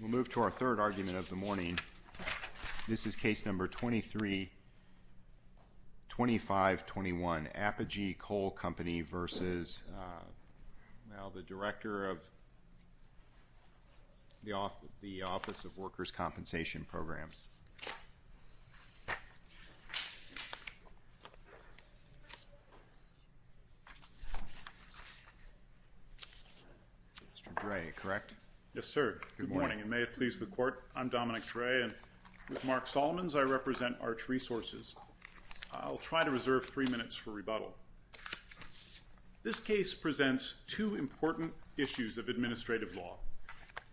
We'll move to our third argument of the morning. This is Case No. 23-2521, Apogee Coal Company v. Director of the Office of Workers' Compensation Programs, Mr. Dray, correct? Yes, sir. Good morning, and may it please the Court, I'm Dominic Dray, and with Mark Solomons, I represent Arch Resources. I'll try to reserve three minutes for rebuttal. This case presents two important issues of administrative law.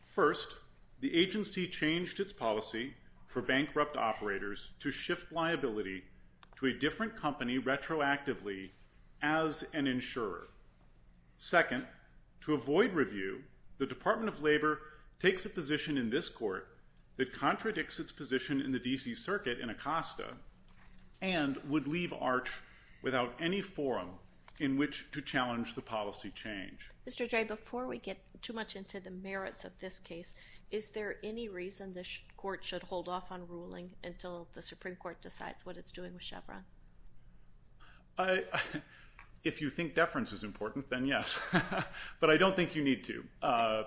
First, the agency changed its policy for bankrupt operators to shift liability to a different company retroactively as an insurer. Second, to avoid review, the Department of Labor takes a position in this Court that contradicts its position in the D.C. Circuit in Acosta and would leave Arch without any forum in which to challenge the policy change. Mr. Dray, before we get too much into the merits of this case, is there any reason the Court should hold off on ruling until the Supreme Court decides what it's doing with Chevron? If you think deference is important, then yes, but I don't think you need to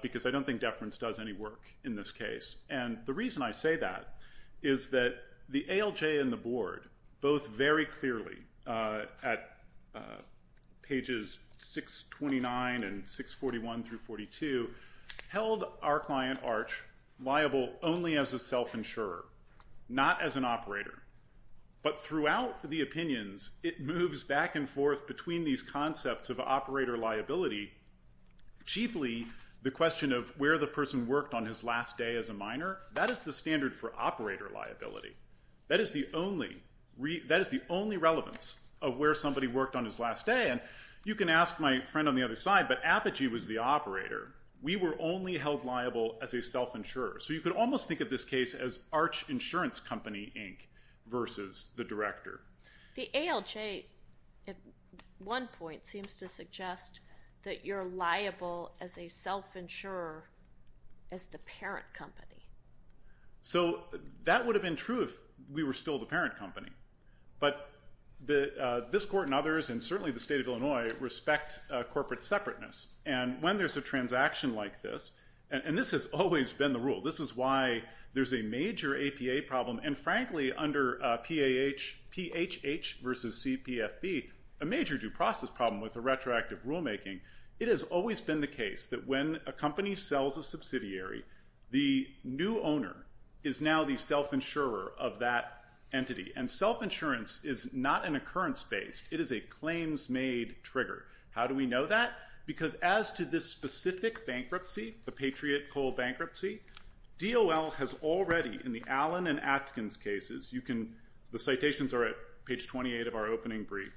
because I don't think deference does any work in this case. And the reason I say that is that the ALJ and the Board both very clearly at pages 629 and 641 through 42 held our client Arch liable only as a self-insurer, not as an operator. But throughout the opinions, it moves back and forth between these concepts of operator liability, chiefly the question of where the person worked on his last day as a minor. That is the standard for operator liability. That is the only relevance of where somebody worked on his last day. And you can ask my friend on the other side, but Apogee was the operator. We were only held liable as a self-insurer. So you could almost think of this case as Arch Insurance Company, Inc. versus the director. The ALJ at one point seems to suggest that you're liable as a self-insurer as the parent company. So that would have been true if we were still the parent company. But this Court and others, and certainly the State of Illinois, respect corporate separateness. And when there's a transaction like this, and this has always been the rule, this is why there's a major APA problem. And frankly, under PAH versus CPFB, a major due process problem with the retroactive rulemaking, it has always been the case that when a company sells a subsidiary, the new owner is now the self-insurer of that entity. And self-insurance is not an occurrence-based. It is a claims-made trigger. How do we know that? Because as to this specific bankruptcy, the Patriot Coal Bankruptcy, DOL has already, in the Allen and Atkins cases, the citations are at page 28 of our opening brief,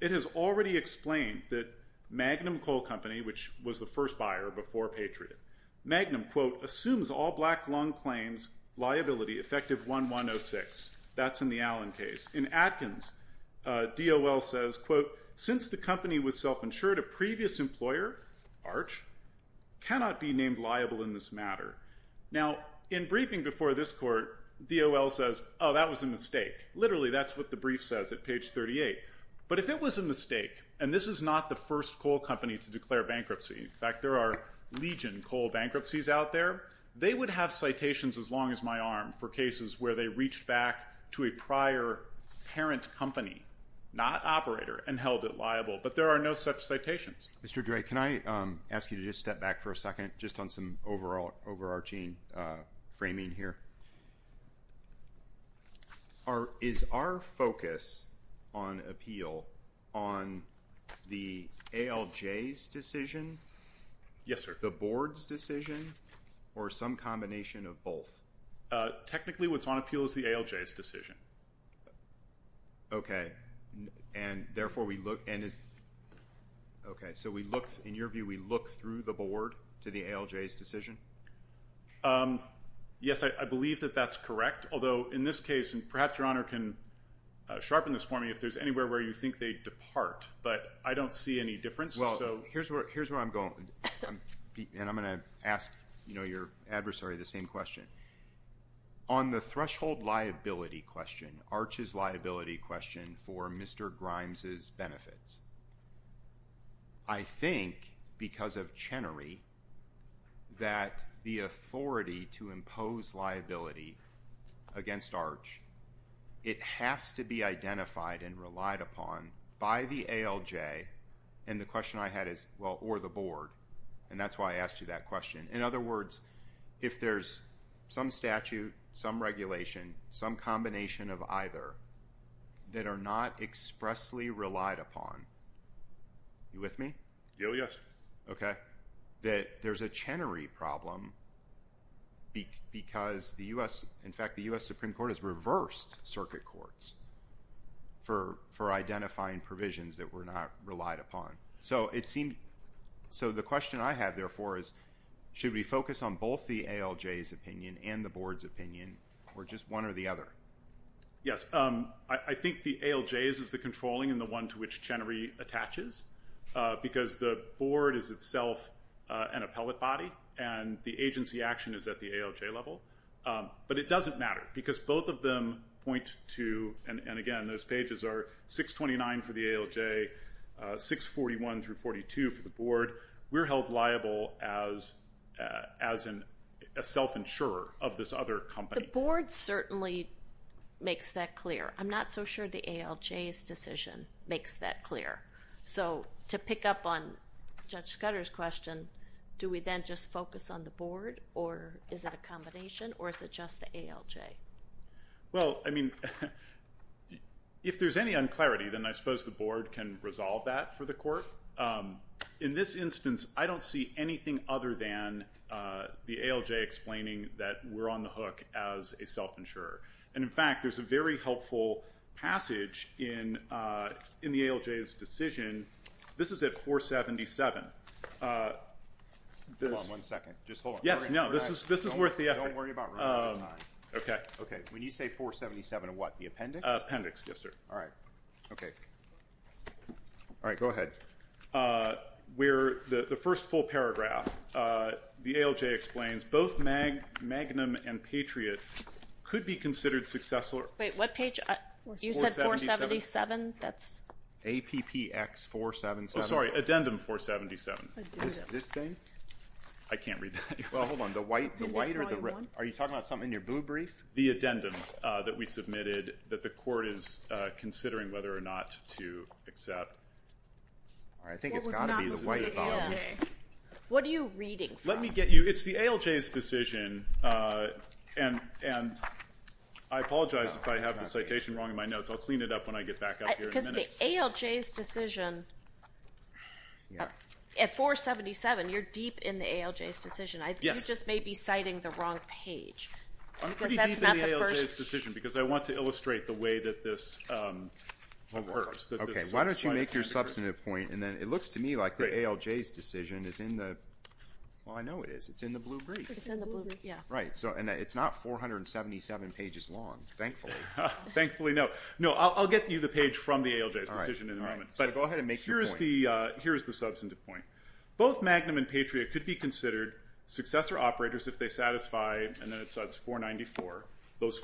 it has already explained that Magnum Coal Company, which was the first buyer before Patriot, Magnum, quote, assumes all black-lung claims liability effective 1106. That's in the Allen case. In Atkins, DOL says, quote, since the company was self-insured, a previous employer, ARCH, cannot be named liable in this matter. Now, in briefing before this Court, DOL says, oh, that was a mistake. Literally, that's what the brief says at page 38. But if it was a mistake, and this is not the first coal company to declare bankruptcy, in fact, there are legion coal bankruptcies out there, they would have citations as long as my arm for cases where they reached back to a prior parent company, not operator, and held it liable. But there are no such citations. Mr. Dray, can I ask you to just step back for a second, just on some overarching framing here? Is our focus on appeal on the ALJ's decision? Yes, sir. The board's decision, or some combination of both? Technically, what's on appeal is the ALJ's decision. Okay. And therefore, we look, and is, okay, so we look, in your view, we look through the board to the ALJ's decision? Yes, I believe that that's correct, although in this case, and perhaps Your Honor can sharpen this for me, if there's anywhere where you think they depart, but I don't see any difference. Well, here's where I'm going, and I'm going to ask, you know, your adversary the same question. On the threshold liability question, ARCH's liability question for Mr. Grimes' benefits, I think, because of Chenery, that the authority to impose liability against ARCH, it has to be identified and relied upon by the ALJ, and the question I had is, well, or the board, and that's why I asked you that question. In other words, if there's some statute, some regulation, some combination of either, that are not expressly relied upon, you with me? Yes. Okay. That there's a Chenery problem because the U.S., in fact, the U.S. Supreme Court has reversed circuit courts for identifying provisions that were not relied upon. So the question I have, therefore, is should we focus on both the ALJ's opinion and the board's opinion, or just one or the other? Yes. I think the ALJ's is the controlling and the one to which Chenery attaches, because the board is itself an appellate body, and the agency action is at the ALJ level, but it doesn't matter because both of them point to, and again, those pages are 629 for the ALJ, 641 through 42 for the board. We're held liable as a self-insurer of this other company. The board certainly makes that clear. I'm not so sure the ALJ's decision makes that clear. So to pick up on Judge Scudder's question, do we then just focus on the board, or is it a combination, or is it just the ALJ? Well, I mean, if there's any unclarity, then I suppose the board can resolve that for the court. In this instance, I don't see anything other than the ALJ explaining that we're on the hook as a self-insurer. And, in fact, there's a very helpful passage in the ALJ's decision. This is at 477. Hold on one second. Just hold on. Yes. No, this is worth the effort. Don't worry about running out of time. Okay. Okay. When you say 477, what, the appendix? Appendix, yes, sir. All right. Okay. All right. Go ahead. The first full paragraph, the ALJ explains both Magnum and Patriot could be considered successors. Wait. What page? You said 477? That's? APPX 477. Oh, sorry. Addendum 477. This thing? I can't read that. Well, hold on. The white or the red? Are you talking about something in your blue brief? The addendum that we submitted that the court is considering whether or not to accept. All right. I think it's got to be. What was not the white volume? This is the ALJ. What are you reading from? Let me get you. It's the ALJ's decision, and I apologize if I have the citation wrong in my notes. I'll clean it up when I get back up here in a minute. Because the ALJ's decision, at 477, you're deep in the ALJ's decision. Yes. You just may be citing the wrong page. I'm pretty deep in the ALJ's decision because I want to illustrate the way that this occurs. Okay. Why don't you make your substantive point, and then it looks to me like the ALJ's decision is in the. Well, I know it is. It's in the blue brief. It's in the blue brief. Yeah. Right. And it's not 477 pages long, thankfully. Thankfully, no. No, I'll get you the page from the ALJ's decision in a moment. All right. All right. But go ahead and make your point. Here's the substantive point. Both Magnum and Patriot could be considered successor operators if they satisfy, and then it says 494, those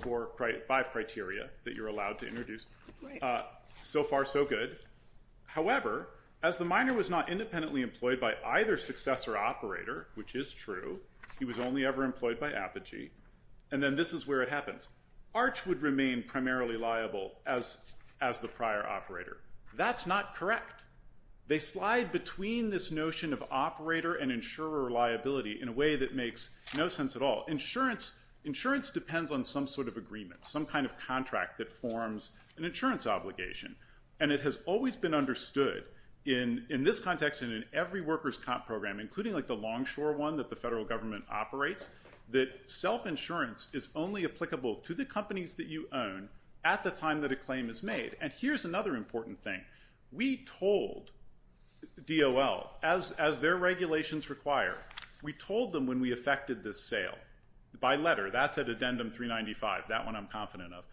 five criteria that you're allowed to introduce. Right. So far, so good. However, as the miner was not independently employed by either successor operator, which is true, he was only ever employed by Apogee, and then this is where it happens. Arch would remain primarily liable as the prior operator. That's not correct. They slide between this notion of operator and insurer liability in a way that makes no sense at all. Insurance depends on some sort of agreement, some kind of contract that forms an insurance obligation, and it has always been understood in this context and in every workers' comp program, including like the Longshore one that the federal government operates, that self-insurance is only applicable to the companies that you own at the time that a claim is made. And here's another important thing. We told DOL, as their regulations require, we told them when we effected this sale, by letter, that's at addendum 395, that one I'm confident of,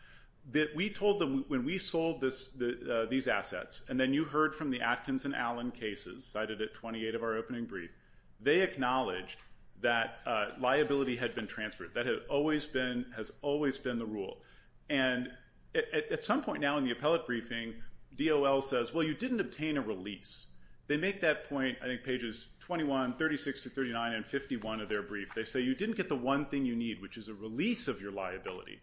that we told them when we sold these assets, and then you heard from the Atkins and Allen cases cited at 28 of our opening brief, they acknowledged that liability had been transferred. That has always been the rule. And at some point now in the appellate briefing, DOL says, well, you didn't obtain a release. They make that point, I think pages 21, 36 through 39, and 51 of their brief. They say you didn't get the one thing you need, which is a release of your liability.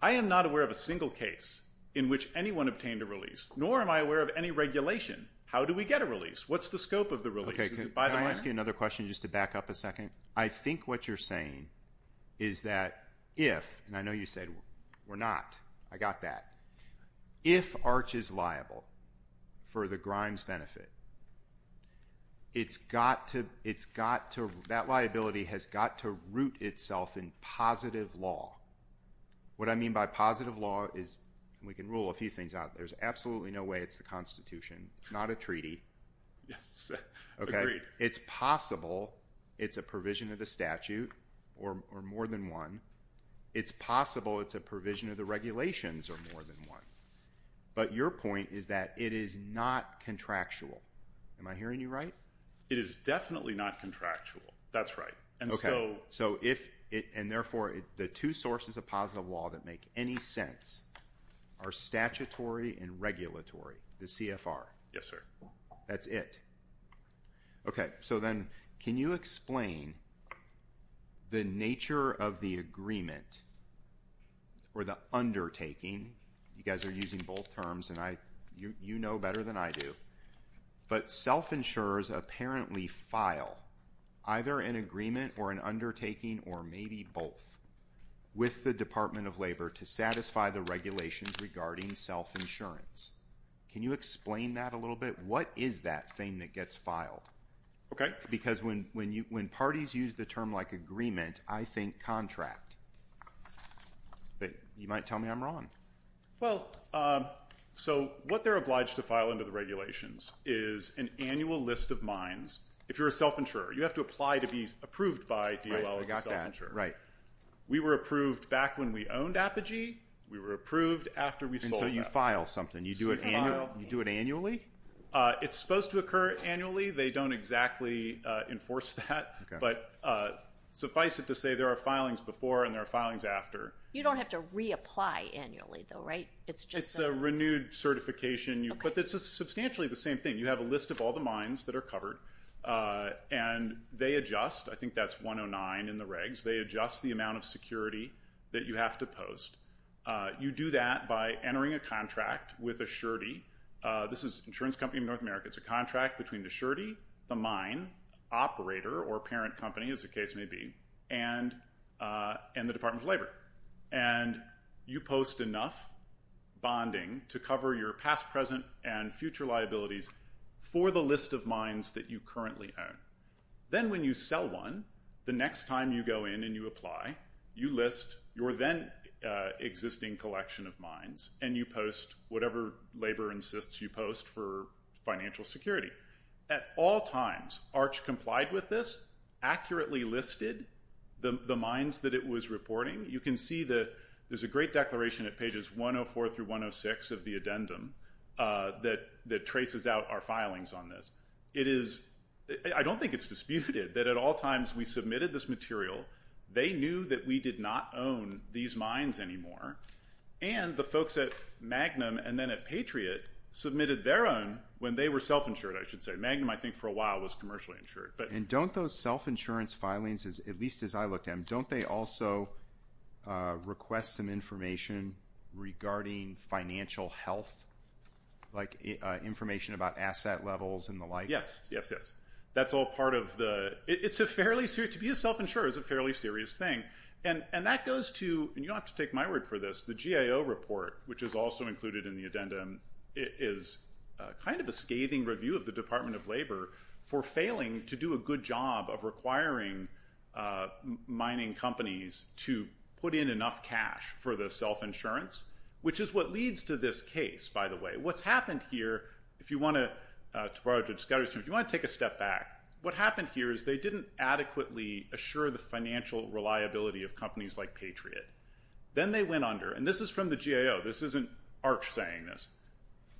I am not aware of a single case in which anyone obtained a release, nor am I aware of any regulation. How do we get a release? What's the scope of the release? Is it by the money? Can I ask you another question just to back up a second? I think what you're saying is that if, and I know you said we're not. I got that. If ARCH is liable for the Grimes benefit, it's got to, that liability has got to root itself in positive law. What I mean by positive law is, and we can rule a few things out, there's absolutely no way it's the Constitution. It's not a treaty. Yes. Agreed. It's possible it's a provision of the statute, or more than one. It's possible it's a provision of the regulations, or more than one. But your point is that it is not contractual. Am I hearing you right? It is definitely not contractual. That's right. Okay. And so if, and therefore the two sources of positive law that make any sense are statutory and regulatory, the CFR. Yes, sir. That's it. Okay. So then can you explain the nature of the agreement or the undertaking? You guys are using both terms, and you know better than I do. But self-insurers apparently file either an agreement or an undertaking or maybe both with the Department of Labor to satisfy the regulations regarding self-insurance. Can you explain that a little bit? What is that thing that gets filed? Okay. Because when parties use the term like agreement, I think contract. But you might tell me I'm wrong. Well, so what they're obliged to file under the regulations is an annual list of mines. If you're a self-insurer, you have to apply to be approved by DOL as a self-insurer. I got that. Right. We were approved back when we owned Apogee. We were approved after we sold that. And so you file something. You do it annually? It's supposed to occur annually. They don't exactly enforce that. But suffice it to say there are filings before and there are filings after. You don't have to reapply annually though, right? It's a renewed certification. But it's substantially the same thing. You have a list of all the mines that are covered, and they adjust. I think that's 109 in the regs. They adjust the amount of security that you have to post. You do that by entering a contract with a surety. This is an insurance company in North America. It's a contract between the surety, the mine, operator or parent company, as the case may be, and the Department of Labor. And you post enough bonding to cover your past, present, and future liabilities for the list of mines that you currently own. Then when you sell one, the next time you go in and you apply, you list your then-existing collection of mines, and you post whatever labor insists you post for financial security. At all times, ARCH complied with this, accurately listed the mines that it was reporting. You can see that there's a great declaration at pages 104 through 106 of the addendum that traces out our filings on this. I don't think it's disputed that at all times we submitted this material. They knew that we did not own these mines anymore, and the folks at Magnum and then at Patriot submitted their own when they were self-insured, I should say. Magnum, I think, for a while was commercially insured. And don't those self-insurance filings, at least as I look at them, don't they also request some information regarding financial health, like information about asset levels and the like? Yes, yes, yes. That's all part of the – to be a self-insurer is a fairly serious thing. And that goes to – and you don't have to take my word for this – the GAO report, which is also included in the addendum, is kind of a scathing review of the Department of Labor for failing to do a good job of requiring mining companies to put in enough cash for the self-insurance, which is what leads to this case, by the way. What's happened here, if you want to take a step back, what happened here is they didn't adequately assure the financial reliability of companies like Patriot. Then they went under – and this is from the GAO. This isn't Arch saying this.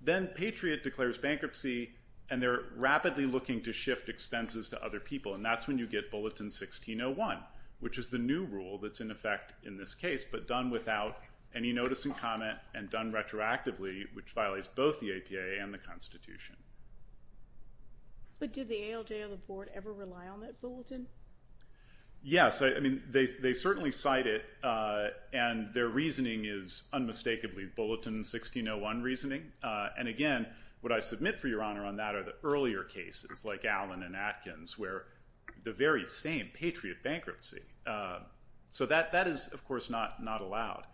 Then Patriot declares bankruptcy, and they're rapidly looking to shift expenses to other people. And that's when you get Bulletin 1601, which is the new rule that's in effect in this case, but done without any notice and comment and done retroactively, which violates both the APAA and the Constitution. But did the ALJ or the Board ever rely on that Bulletin? Yes. I mean, they certainly cite it, and their reasoning is unmistakably Bulletin 1601 reasoning. And again, what I submit for your honor on that are the earlier cases like Allen and Atkins where the very same Patriot bankruptcy. So that is, of course, not allowed.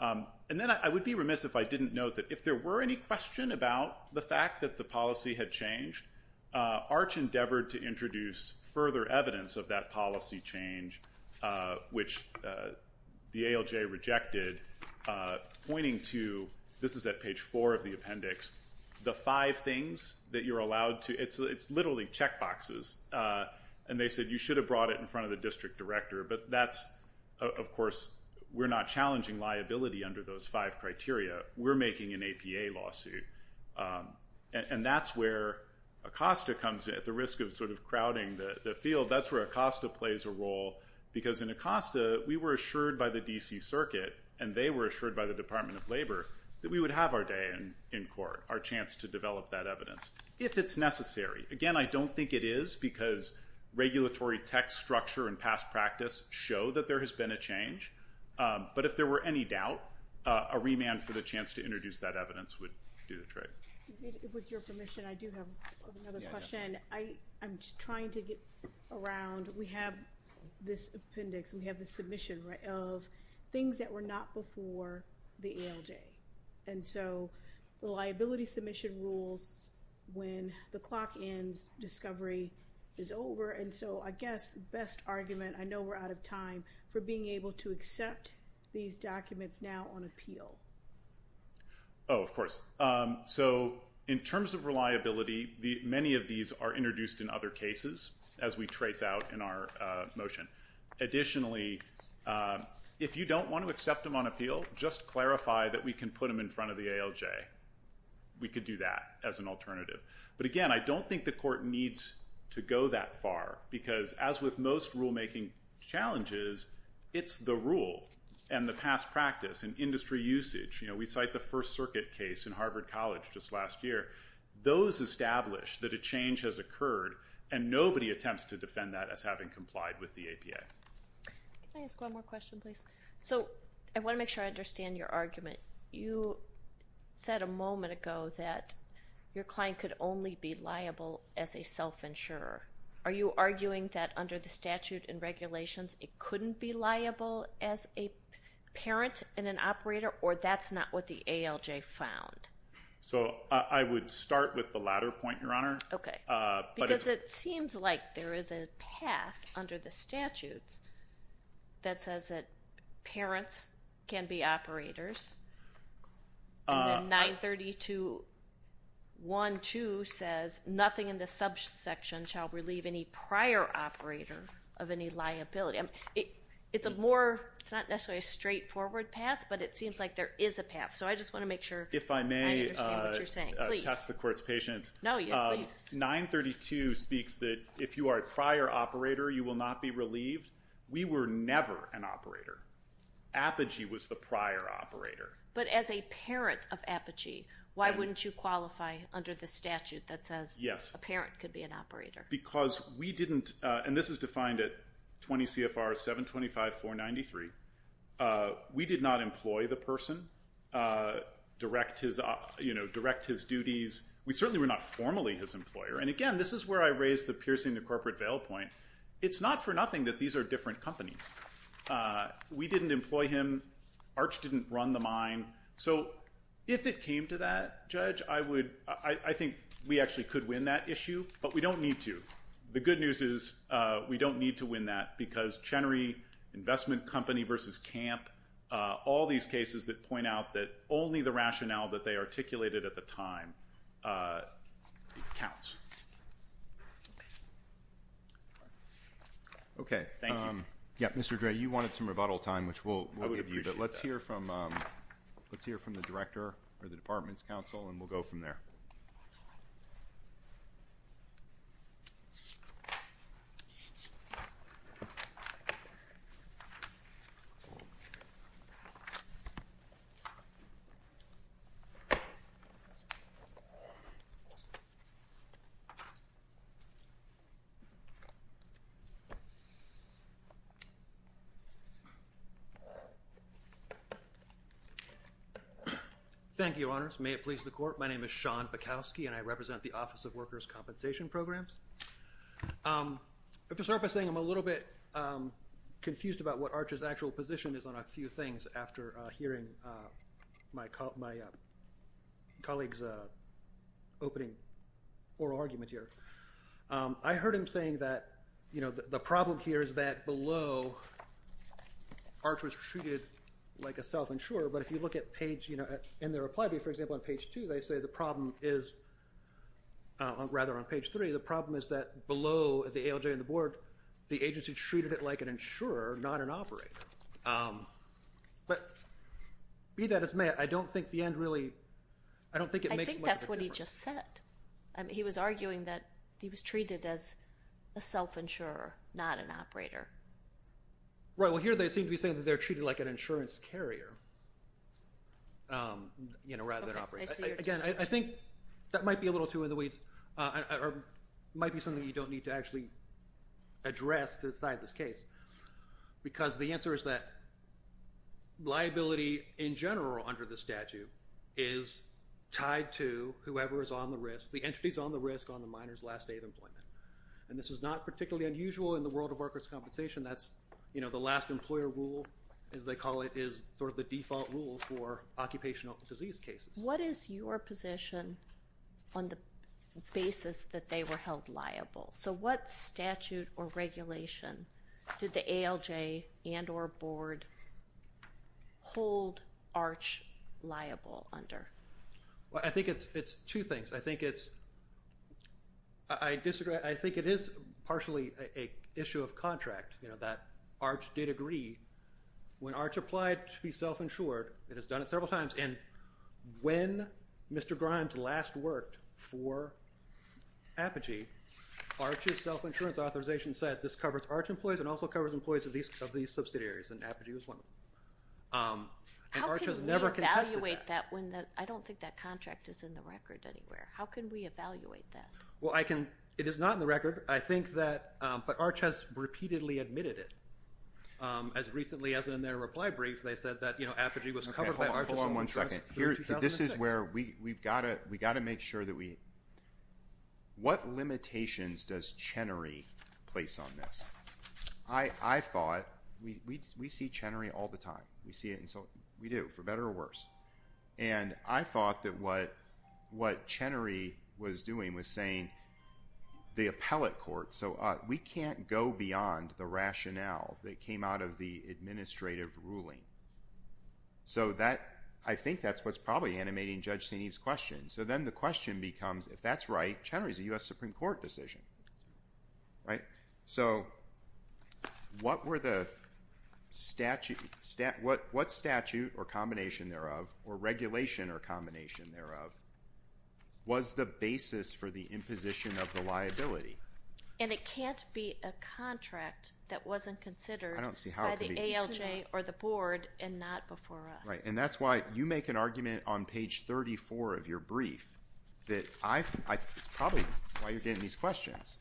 And then I would be remiss if I didn't note that if there were any question about the fact that the policy had changed, Arch endeavored to introduce further evidence of that policy change, which the ALJ rejected, pointing to – this is at page 4 of the appendix – the five things that you're allowed to – it's literally checkboxes. And they said you should have brought it in front of the district director, but that's – of course, we're not challenging liability under those five criteria. We're making an APA lawsuit. And that's where ACOSTA comes in. At the risk of sort of crowding the field, that's where ACOSTA plays a role. Because in ACOSTA, we were assured by the D.C. Circuit, and they were assured by the Department of Labor, that we would have our day in court, our chance to develop that evidence, if it's necessary. Again, I don't think it is, because regulatory text structure and past practice show that there has been a change. But if there were any doubt, a remand for the chance to introduce that evidence would do the trick. With your permission, I do have another question. I'm trying to get around. We have this appendix. We have this submission of things that were not before the ALJ. And so the liability submission rules, when the clock ends, discovery is over. And so I guess the best argument – do we accept these documents now on appeal? Oh, of course. So in terms of reliability, many of these are introduced in other cases, as we trace out in our motion. Additionally, if you don't want to accept them on appeal, just clarify that we can put them in front of the ALJ. We could do that as an alternative. But again, I don't think the court needs to go that far, because as with most rulemaking challenges, it's the rule and the past practice and industry usage. We cite the First Circuit case in Harvard College just last year. Those establish that a change has occurred, and nobody attempts to defend that as having complied with the APA. Can I ask one more question, please? So I want to make sure I understand your argument. You said a moment ago that your client could only be liable as a self-insurer. Are you arguing that under the statute and regulations, it couldn't be liable as a parent and an operator, or that's not what the ALJ found? So I would start with the latter point, Your Honor. Okay. Because it seems like there is a path under the statutes that says that parents can be operators. And then 932.1.2 says, nothing in the subsection shall relieve any prior operator of any liability. It's not necessarily a straightforward path, but it seems like there is a path. So I just want to make sure I understand what you're saying. If I may test the court's patience. No, you please. 932 speaks that if you are a prior operator, you will not be relieved. We were never an operator. Apogee was the prior operator. But as a parent of Apogee, why wouldn't you qualify under the statute that says a parent could be an operator? Because we didn't, and this is defined at 20 CFR 725.493. We did not employ the person, direct his duties. We certainly were not formally his employer. And again, this is where I raised the piercing the corporate veil point. It's not for nothing that these are different companies. We didn't employ him. Arch didn't run the mine. So if it came to that judge, I would, I think we actually could win that issue, but we don't need to. The good news is we don't need to win that because Chenery investment company versus camp, all these cases that point out that only the rationale that they articulated at the time. Okay. Thank you. Yep. Mr. Dre, you wanted some rebuttal time, which we'll give you, but let's hear from let's hear from the director or the department's council. And we'll go from there. Okay. Thank you. Honors. May it please the court. My name is Sean Bukowski and I represent the office of workers compensation programs. I'm going to start by saying I'm a little bit confused about what Archer's actual position is on a few things. After hearing my call, my colleagues opening or argument here. I heard him saying that, you know, the problem here is that below arch was treated like a self-insurer, but if you look at page, you know, in their reply, for example, on page two, they say the problem is rather on page three, the problem is that below the ALJ and the board, the agency treated it like an insurer, not an operator. But be that as may, I don't think the end really, I don't think it makes much of a difference. That's what he just said. And he was arguing that he was treated as a self-insurer, not an operator, right? Well here they seem to be saying that they're treated like an insurance carrier, you know, rather than operate. Again, I think that might be a little too in the weeds or might be something that you don't need to actually address the side of this case, because the answer is that liability in general under the statute is tied to whoever is on the risk, the entities on the risk on the minor's last day of employment. And this is not particularly unusual in the world of workers' compensation. That's, you know, the last employer rule as they call it is sort of the default rule for occupational disease cases. What is your position on the basis that they were held liable? So what statute or regulation did the ALJ and or board hold ARCH liable under? Well, I think it's, it's two things. I think it's, I disagree. I think it is partially a issue of contract, you know, that ARCH did agree when ARCH applied to be self-insured, it has done it several times. And when Mr. Grimes last worked for Apogee, ARCH's self-insurance authorization said this covers ARCH employees and also employment. And ARCH has never contested that. I don't think that contract is in the record anywhere. How can we evaluate that? Well, I can, it is not in the record. I think that, but ARCH has repeatedly admitted it as recently as in their reply brief, they said that, you know, Apogee was covered by ARCH. Hold on one second here. This is where we, we've got to, we got to make sure that we, what limitations does Chenery place on this? I, I thought we, we, we see Chenery all the time. We see it. And so we do, for better or worse. And I thought that what, what Chenery was doing was saying the appellate court. So we can't go beyond the rationale that came out of the administrative ruling. So that, I think that's what's probably animating Judge Senev's question. So then the question becomes if that's right, Chenery is a US Supreme Court decision, right? So, what were the statute stat, what, what statute or combination thereof or regulation or combination thereof was the basis for the imposition of the liability? And it can't be a contract that wasn't considered by the ALJ or the board and not before us. And that's why you make an argument on page 34 of your brief that I've, I probably why you're getting these questions.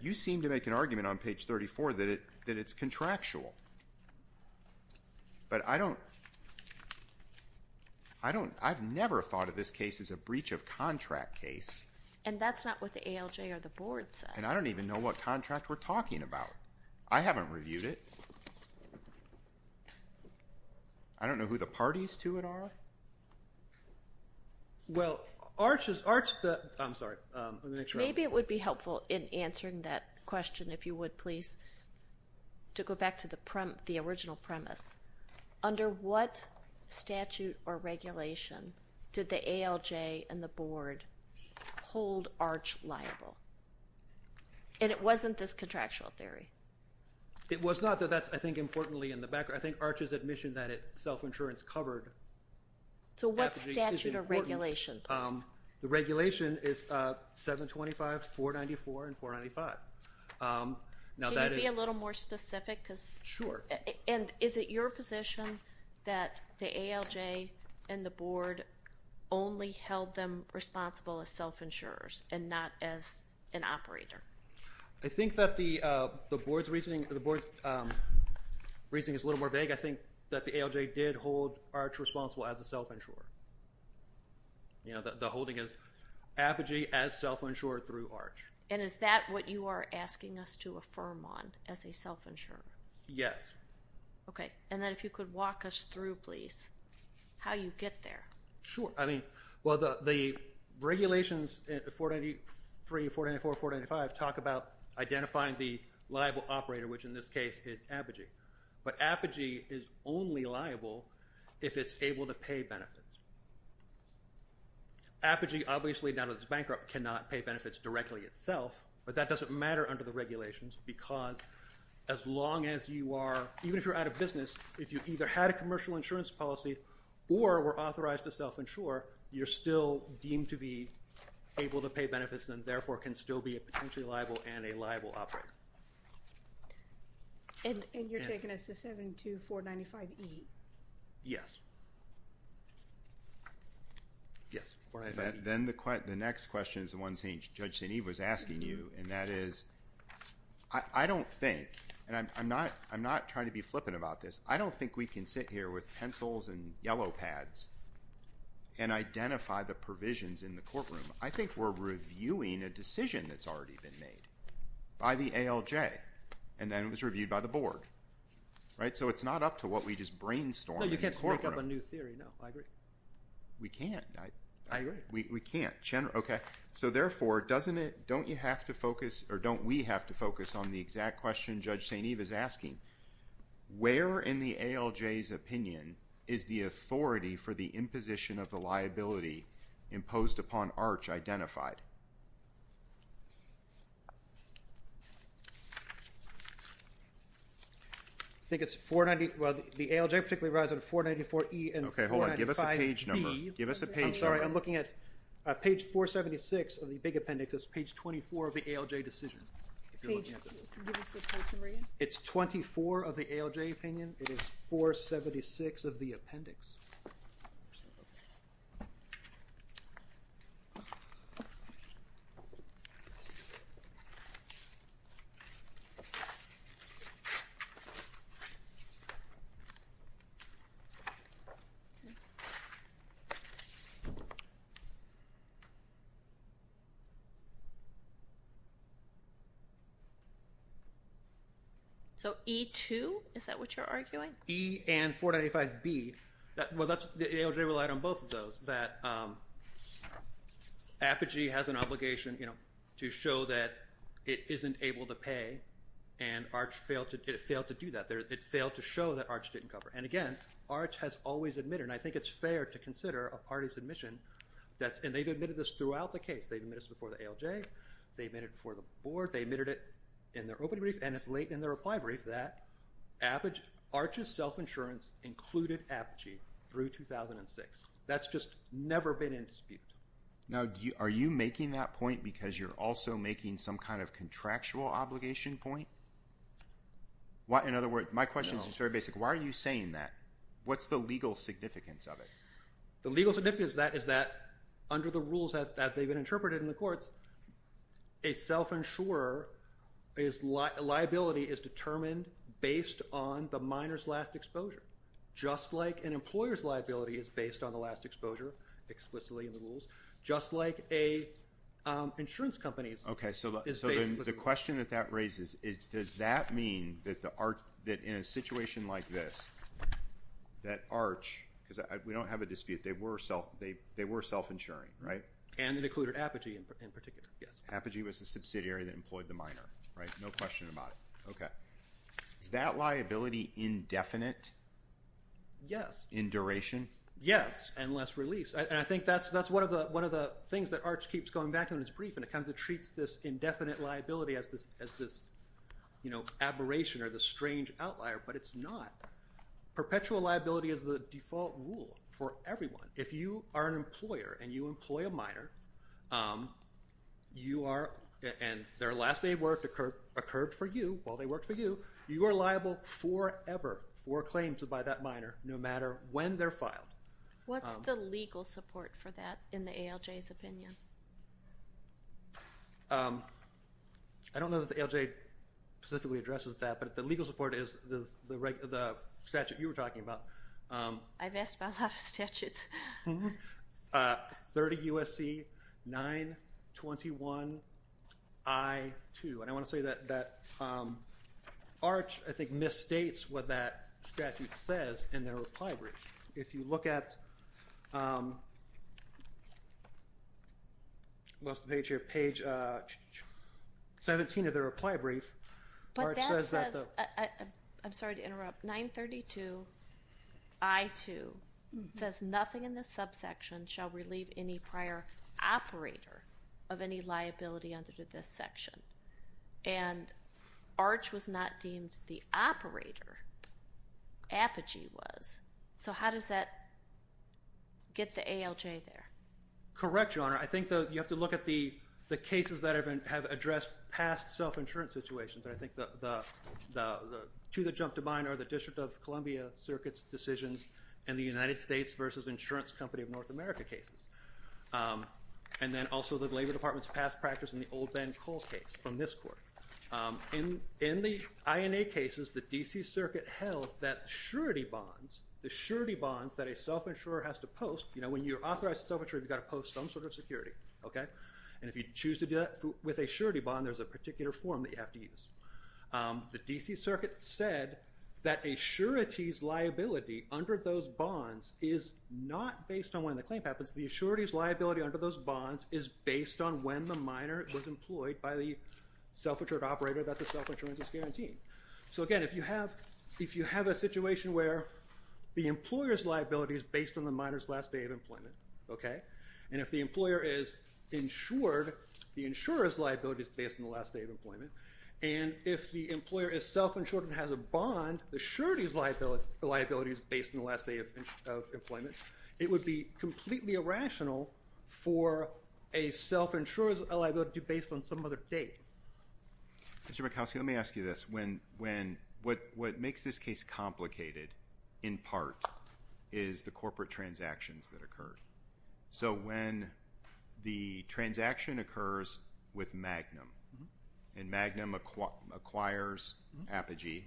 You seem to make an argument on page 34 that it, that it's contractual, but I don't, I don't, I've never thought of this case as a breach of contract case. And that's not what the ALJ or the board said. And I don't even know what contract we're talking about. I haven't reviewed it. I don't know who the parties to it are. Well, ARCH is ARCH. I'm sorry. Maybe it would be helpful in answering that question. If you would please, to go back to the prim, the original premise under what statute or regulation did the ALJ and the board hold ARCH liable? And it wasn't this contractual theory. It was not that that's, I think importantly in the background, I think ARCH's admission that it self-insurance covered. So what statute or regulation? The regulation is 725, 494 and 495. Can you be a little more specific? Cause sure. And is it your position that the ALJ and the board only held them responsible as self-insurers and not as an operator? I think that the the board's reasoning, the board's reasoning is a little more vague. I think that the ALJ did hold ARCH responsible as a self-insurer. You know, the, the holding is Apogee as self-insured through ARCH. And is that what you are asking us to affirm on as a self-insurer? Yes. Okay. And then if you could walk us through, please, how you get there. Sure. I mean, well, the, the regulations, 493, 494, 495 talk about identifying the liable operator, which in this case is Apogee, but Apogee is only liable if it's able to pay benefits. Apogee, obviously now that it's bankrupt, cannot pay benefits directly itself, but that doesn't matter under the regulations because as long as you are, even if you're out of business, if you either had a commercial insurance policy or were authorized to self-insure, you're still deemed to be able to pay benefits. And therefore can still be a potentially liable and a liable operator. And you're taking us to 72495E. Yes. Yes. Then the next question is the one Judge St. Eve was asking you. And that is, I don't think, and I'm not, I'm not trying to be flippant about this. I don't think we can sit here with pencils and yellow pads and identify the provisions in the courtroom. I think we're reviewing a decision that's already been made by the ALJ. And then it was reviewed by the board, right? So it's not up to what we just brainstormed. You can't make up a new theory. No, I agree. We can't. I agree. We can't. Okay. So therefore, doesn't it, don't you have to focus or don't we have to focus on the exact question? Judge St. Eve is asking where in the ALJs opinion is the authority for the search identified? I think it's 490. Well, the ALJ particularly rides on a 494E and 495B. Okay. Hold on. Give us a page number. Give us a page. I'm sorry. I'm looking at a page 476 of the big appendix. It's page 24 of the ALJ decision. It's 24 of the ALJ opinion. It is 476 of the appendix. Okay. So E2, is that what you're arguing? E and 495B. Well, the ALJ relied on both of those. Apogee has an obligation, you know, to show that it isn't able to pay and ARCH failed to do that. It failed to show that ARCH didn't cover. And again, ARCH has always admitted, and I think it's fair to consider a party's admission that's, and they've admitted this throughout the case. They've admitted this before the ALJ, they admitted it before the board, they admitted it in their opening brief and it's late in their reply brief that ARCH's self-insurance included Apogee through 2006. That's just never been in dispute. Now, are you making that point because you're also making some kind of contractual obligation point? In other words, my question is just very basic. Why are you saying that? What's the legal significance of it? The legal significance of that is that under the rules that they've been interpreted in the courts, a self-insurer's liability is determined based on the minor's last exposure, just like an employer's liability is based on the last exposure, explicitly in the rules, just like an insurance company's. Okay, so the question that that raises is, does that mean that in a situation like this, that ARCH, because we don't have a dispute, they were self-insuring, right? And it included Apogee in particular, yes. Apogee was the subsidiary that employed the minor, right? No question about it. Okay. Is that liability indefinite? Yes. In duration? Yes, and less release. And I think that's one of the things that ARCH keeps going back to in its brief, and it kind of treats this indefinite liability as this aberration or this strange outlier, but it's not. Perpetual liability is the default rule for everyone. If you are an employer and you employ a minor, and their last day of work occurred for you while they worked for you, you are liable forever for claims by that minor, no matter when they're filed. What's the legal support for that in the ALJ's opinion? I don't know that the ALJ specifically addresses that, but the legal support is the statute you were talking about. I've asked about a lot of statutes. 30 U.S.C. 921 I-2. And I want to say that ARCH, I think, misstates what that statute says in their reply brief. If you look at... I lost the page here. Page 17 of their reply brief, ARCH says that the... I'm sorry to interrupt. 932 I-2 says nothing in the subsection shall relieve any prior operator of any liability under this section. And ARCH was not deemed the operator. Apogee was. So how does that get the ALJ there? Correct, Your Honor. I think you have to look at the cases that have addressed past self-insurance situations. I think the two that jump to mind are the District of Columbia Circuit's decisions in the United States versus Insurance Company of North America cases. And then also the Labor Department's past practice in the old Ben Cole case from this court. In the INA cases, the D.C. Circuit held that surety bonds, the surety bonds that a self-insurer has to post... When you're authorized to self-insure, you've got to post some sort of security, OK? And if you choose to do that with a surety bond, there's a particular form that you have to use. The D.C. Circuit said that a surety's liability under those bonds is not based on when the claim happens. The surety's liability under those bonds is based on when the minor was employed by the self-insured operator that the self-insurance is guaranteed. So again, if you have a situation where the employer's liability is based on the minor's last day of employment, OK, and if the employer is insured, the insurer's liability is based on the last day of employment, and if the employer is self-insured and has a bond, the surety's liability is based on the last day of employment. It would be completely irrational for a self-insurer's liability to be based on some other date. Mr. Mikowski, let me ask you this. What makes this case complicated, in part, is the corporate transactions that occurred. So when the transaction occurs with Magnum, and Magnum acquires Apogee,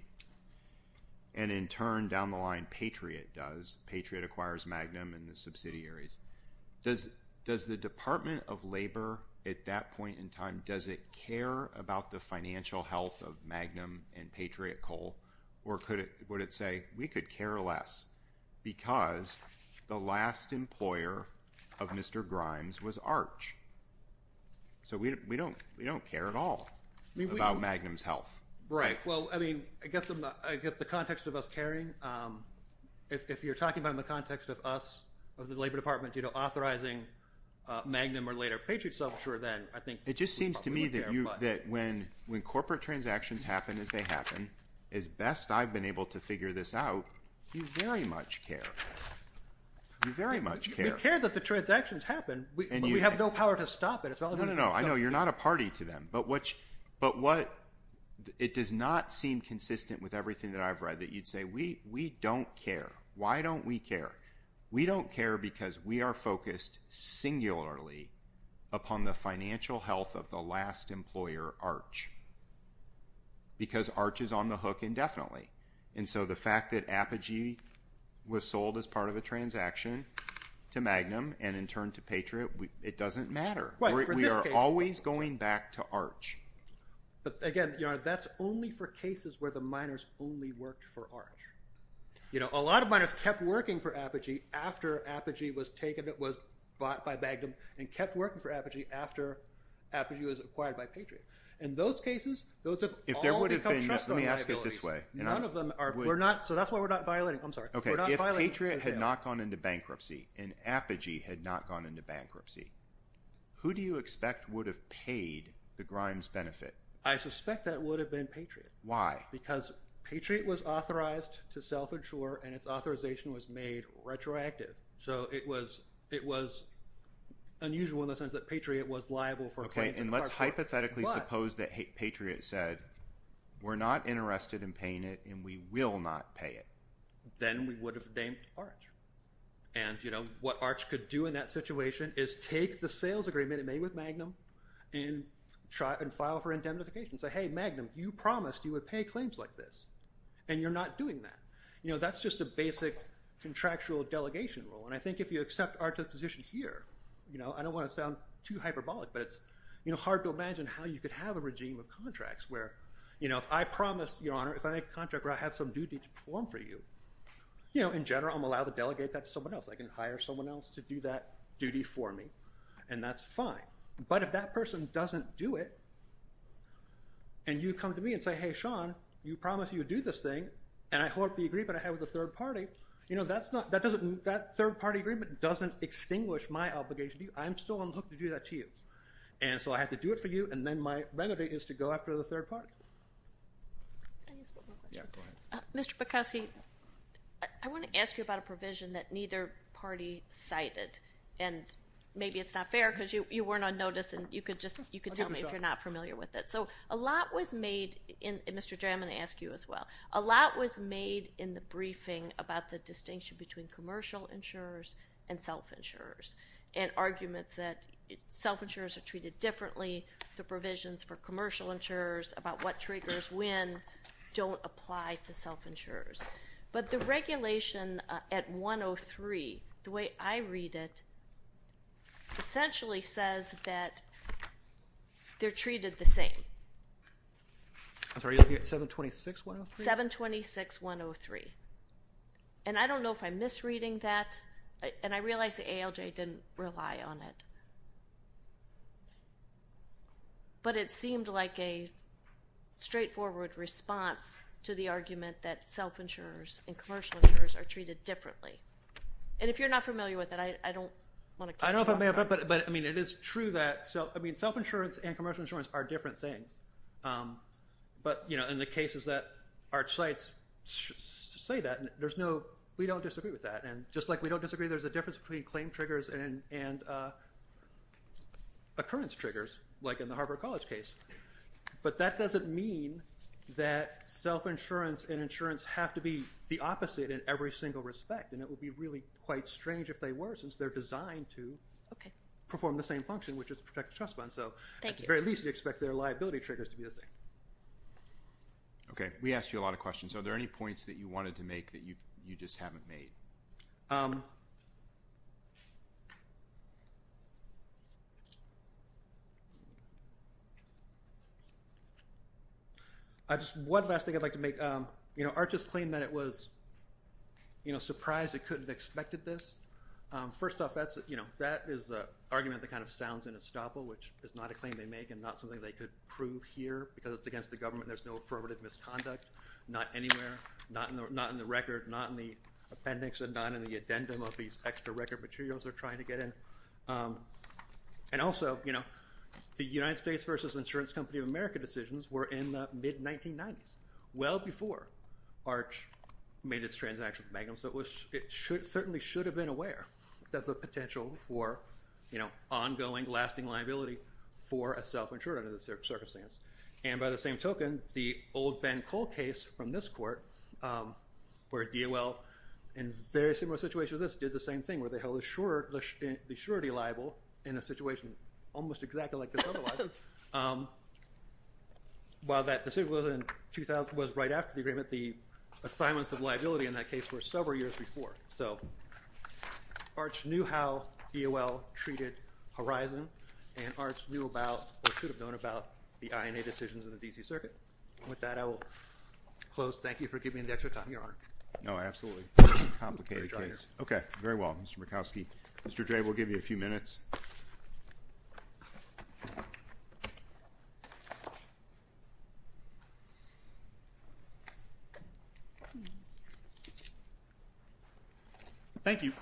and in turn, down the line, Patriot does. Patriot acquires Magnum and the subsidiaries. Does the Department of Labor, at that point in time, does it care about the financial health of Magnum and Patriot Coal, or would it say, we could care less because the last employer of Mr. Grimes was Arch? So we don't care at all about Magnum's health. Right. Well, I mean, I guess the context of us caring, if you're talking about in the context of us, of the Labor Department, authorizing Magnum or later Patriot's self-insurer, then I think we would care. It just seems to me that when corporate transactions happen as they happen, as best I've been able to figure this out, you very much care. You very much care. We care that the transactions happen, but we have no power to stop it. No, no, no. I know you're not a party to them, but what it does not seem consistent with everything that I've read that you'd say, we don't care. Why don't we care? We don't care because we are focused singularly upon the financial health of the last employer, Arch, because Arch is on the hook indefinitely. And so the fact that Apogee was sold as part of a transaction to Magnum and in turn to Patriot, it doesn't matter. We are always going back to Arch. But again, that's only for cases where the miners only worked for Arch. A lot of miners kept working for Apogee after Apogee was taken, it was bought by Magnum, and kept working for Apogee after Apogee was acquired by Patriot. In those cases, those have all become trustworthy abilities. None of them are. So that's why we're not violating. I'm sorry. Okay, if Patriot had not gone into bankruptcy and Apogee had not gone into bankruptcy, who do you expect would have paid the grime's benefit? I suspect that would have been Patriot. Why? Because Patriot was authorized to self-insure and its authorization was made retroactive. So it was unusual in the sense that Patriot was liable for claims. Okay, and let's hypothetically suppose that Patriot said, we're not interested in paying it and we will not pay it. Then we would have damed Arch. And what Arch could do in that situation is take the sales agreement it made with Magnum and file for indemnification. Say, hey, Magnum, you promised you would pay claims like this, and you're not doing that. That's just a basic contractual delegation rule. And I think if you accept Arch's position here, I don't want to sound too hyperbolic, but it's hard to imagine how you could have a regime of contracts where if I promise, Your Honor, if I make a contract where I have some duty to perform for you, in general I'm allowed to delegate that to someone else. I can hire someone else to do that duty for me, and that's fine. But if that person doesn't do it and you come to me and say, hey, Sean, you promised you would do this thing, and I hold up the agreement I had with the third party, that third-party agreement doesn't extinguish my obligation to you. I'm still on the hook to do that to you. And so I have to do it for you, and then my benefit is to go after the third party. Mr. Bukowski, I want to ask you about a provision that neither party cited, and maybe it's not fair because you weren't on notice, and you could tell me if you're not familiar with it. So a lot was made in the briefing about the distinction between commercial insurers and self-insurers and arguments that self-insurers are treated differently, the provisions for commercial insurers about what triggers when don't apply to self-insurers. But the regulation at 103, the way I read it, essentially says that they're treated the same. I'm sorry, you're looking at 726-103? 726-103. And I don't know if I'm misreading that, and I realize the ALJ didn't rely on it, but it seemed like a straightforward response to the argument that self-insurers and commercial insurers are treated differently. And if you're not familiar with it, I don't want to catch you off guard. But it is true that self-insurance and commercial insurance are different things. But in the cases that our sites say that, we don't disagree with that. And just like we don't disagree, there's a difference between claim triggers and occurrence triggers, like in the Harvard College case. But that doesn't mean that self-insurance and insurance have to be the opposite in every single respect. And it would be really quite strange if they were, since they're designed to perform the same function, which is protect the trust fund. So at the very least, you'd expect their liability triggers to be the same. Okay. We asked you a lot of questions. Are there any points that you wanted to make that you just haven't made? One last thing I'd like to make. ARCHIS claimed that it was surprised it couldn't have expected this. First off, that is an argument that kind of sounds unstoppable, which is not a claim they make and not something they could prove here, because it's against the government. There's no affirmative misconduct. Not anywhere. Not in the record. Not in the appendix. And not in the addendum of these extra record materials they're trying to get in. And also, you know, the United States versus Insurance Company of America decisions were in the mid-1990s, well before ARCH made its transaction with Magnum. So it certainly should have been aware that there's a potential for ongoing, lasting liability for a self-insured under this circumstance. And by the same token, the old Ben Cole case from this court, where DOL, in a very similar situation to this, did the same thing, where they held the surety liable in a situation almost exactly like this other liability. While that decision was right after the agreement, the assignments of liability in that case were several years before. So ARCH knew how DOL treated Horizon, and ARCH knew about, or should have known about, the INA decisions in the D.C. Circuit. With that, I will close. Thank you for giving me the extra time. You're on. No, absolutely. Complicated case. Okay. Very well, Mr. Murkowski. Mr. Jay, we'll give you a few minutes. Thank you.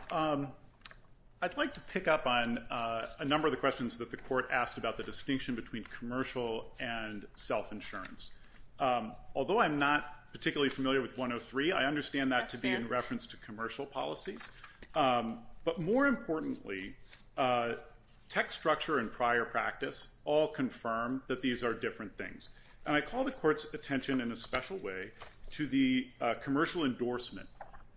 I'd like to pick up on a number of the questions that the court asked about the distinction between commercial and self-insurance. Although I'm not particularly familiar with 103, I understand that to be in reference to commercial policies. But more importantly, tech structure and prior practice all confirm that these are different things. And I call the court's attention, in a special way, to the commercial endorsement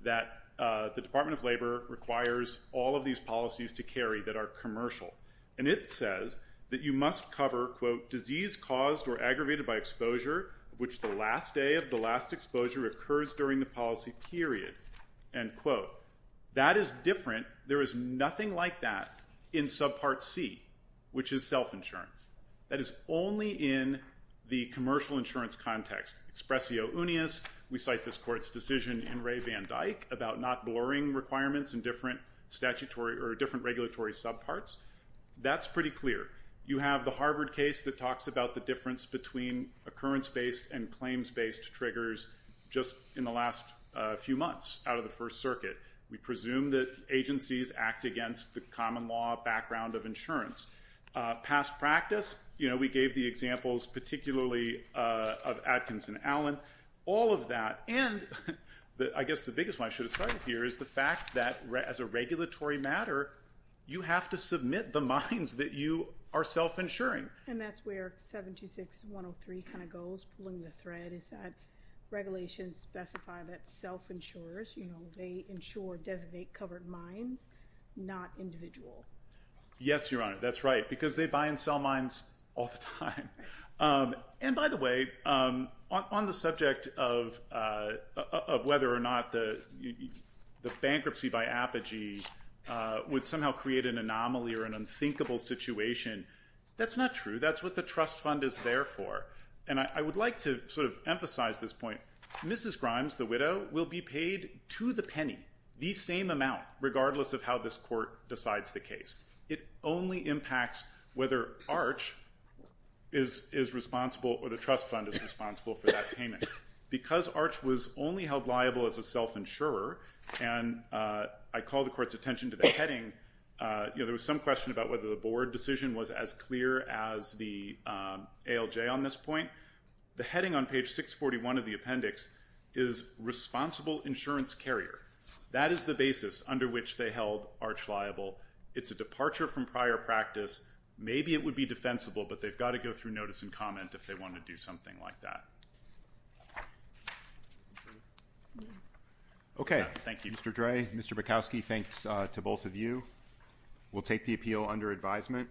that the Department of Labor requires all of these policies to carry that are commercial. And it says that you must cover, quote, disease caused or aggravated by exposure, which the last day of the last exposure occurs during the policy period, end quote. That is different. There is nothing like that in subpart C, which is self-insurance. That is only in the commercial insurance context. Expressio unius. We cite this court's decision in Ray Van Dyke about not blurring requirements in different statutory or different regulatory subparts. That's pretty clear. You have the Harvard case that talks about the difference between occurrence-based and claims-based triggers just in the last few months out of the First Circuit. We presume that agencies act against the common law background of insurance. Past practice, you know, we gave the examples, particularly of Adkins and Allen, all of that. And I guess the biggest one I should have started here is the fact that, as a regulatory matter, you have to submit the mines that you are self-insuring. And that's where 726.103 kind of goes, pulling the thread, is that regulations specify that self-insurers, you know, they insure designated covered mines, not individual. Yes, Your Honor, that's right, because they buy and sell mines all the time. And by the way, on the subject of whether or not the bankruptcy by Apogee would somehow create an anomaly or an unthinkable situation, that's not true. That's what the trust fund is there for. And I would like to sort of emphasize this point. Mrs. Grimes, the widow, will be paid to the penny, the same amount, regardless of how this court decides the case. It only impacts whether Arch is responsible or the trust fund is responsible for that payment. Because Arch was only held liable as a self-insurer, and I call the court's attention to the heading, you know, there was some question about whether the board decision was as clear as the ALJ on this point. The heading on page 641 of the appendix is responsible insurance carrier. That is the basis under which they held Arch liable. It's a departure from prior practice. Maybe it would be defensible, but they've got to go through notice and comment if they want to do something like that. Okay. Thank you. Mr. Dray, Mr. Bukowski, thanks to both of you. We'll take the appeal under advisement.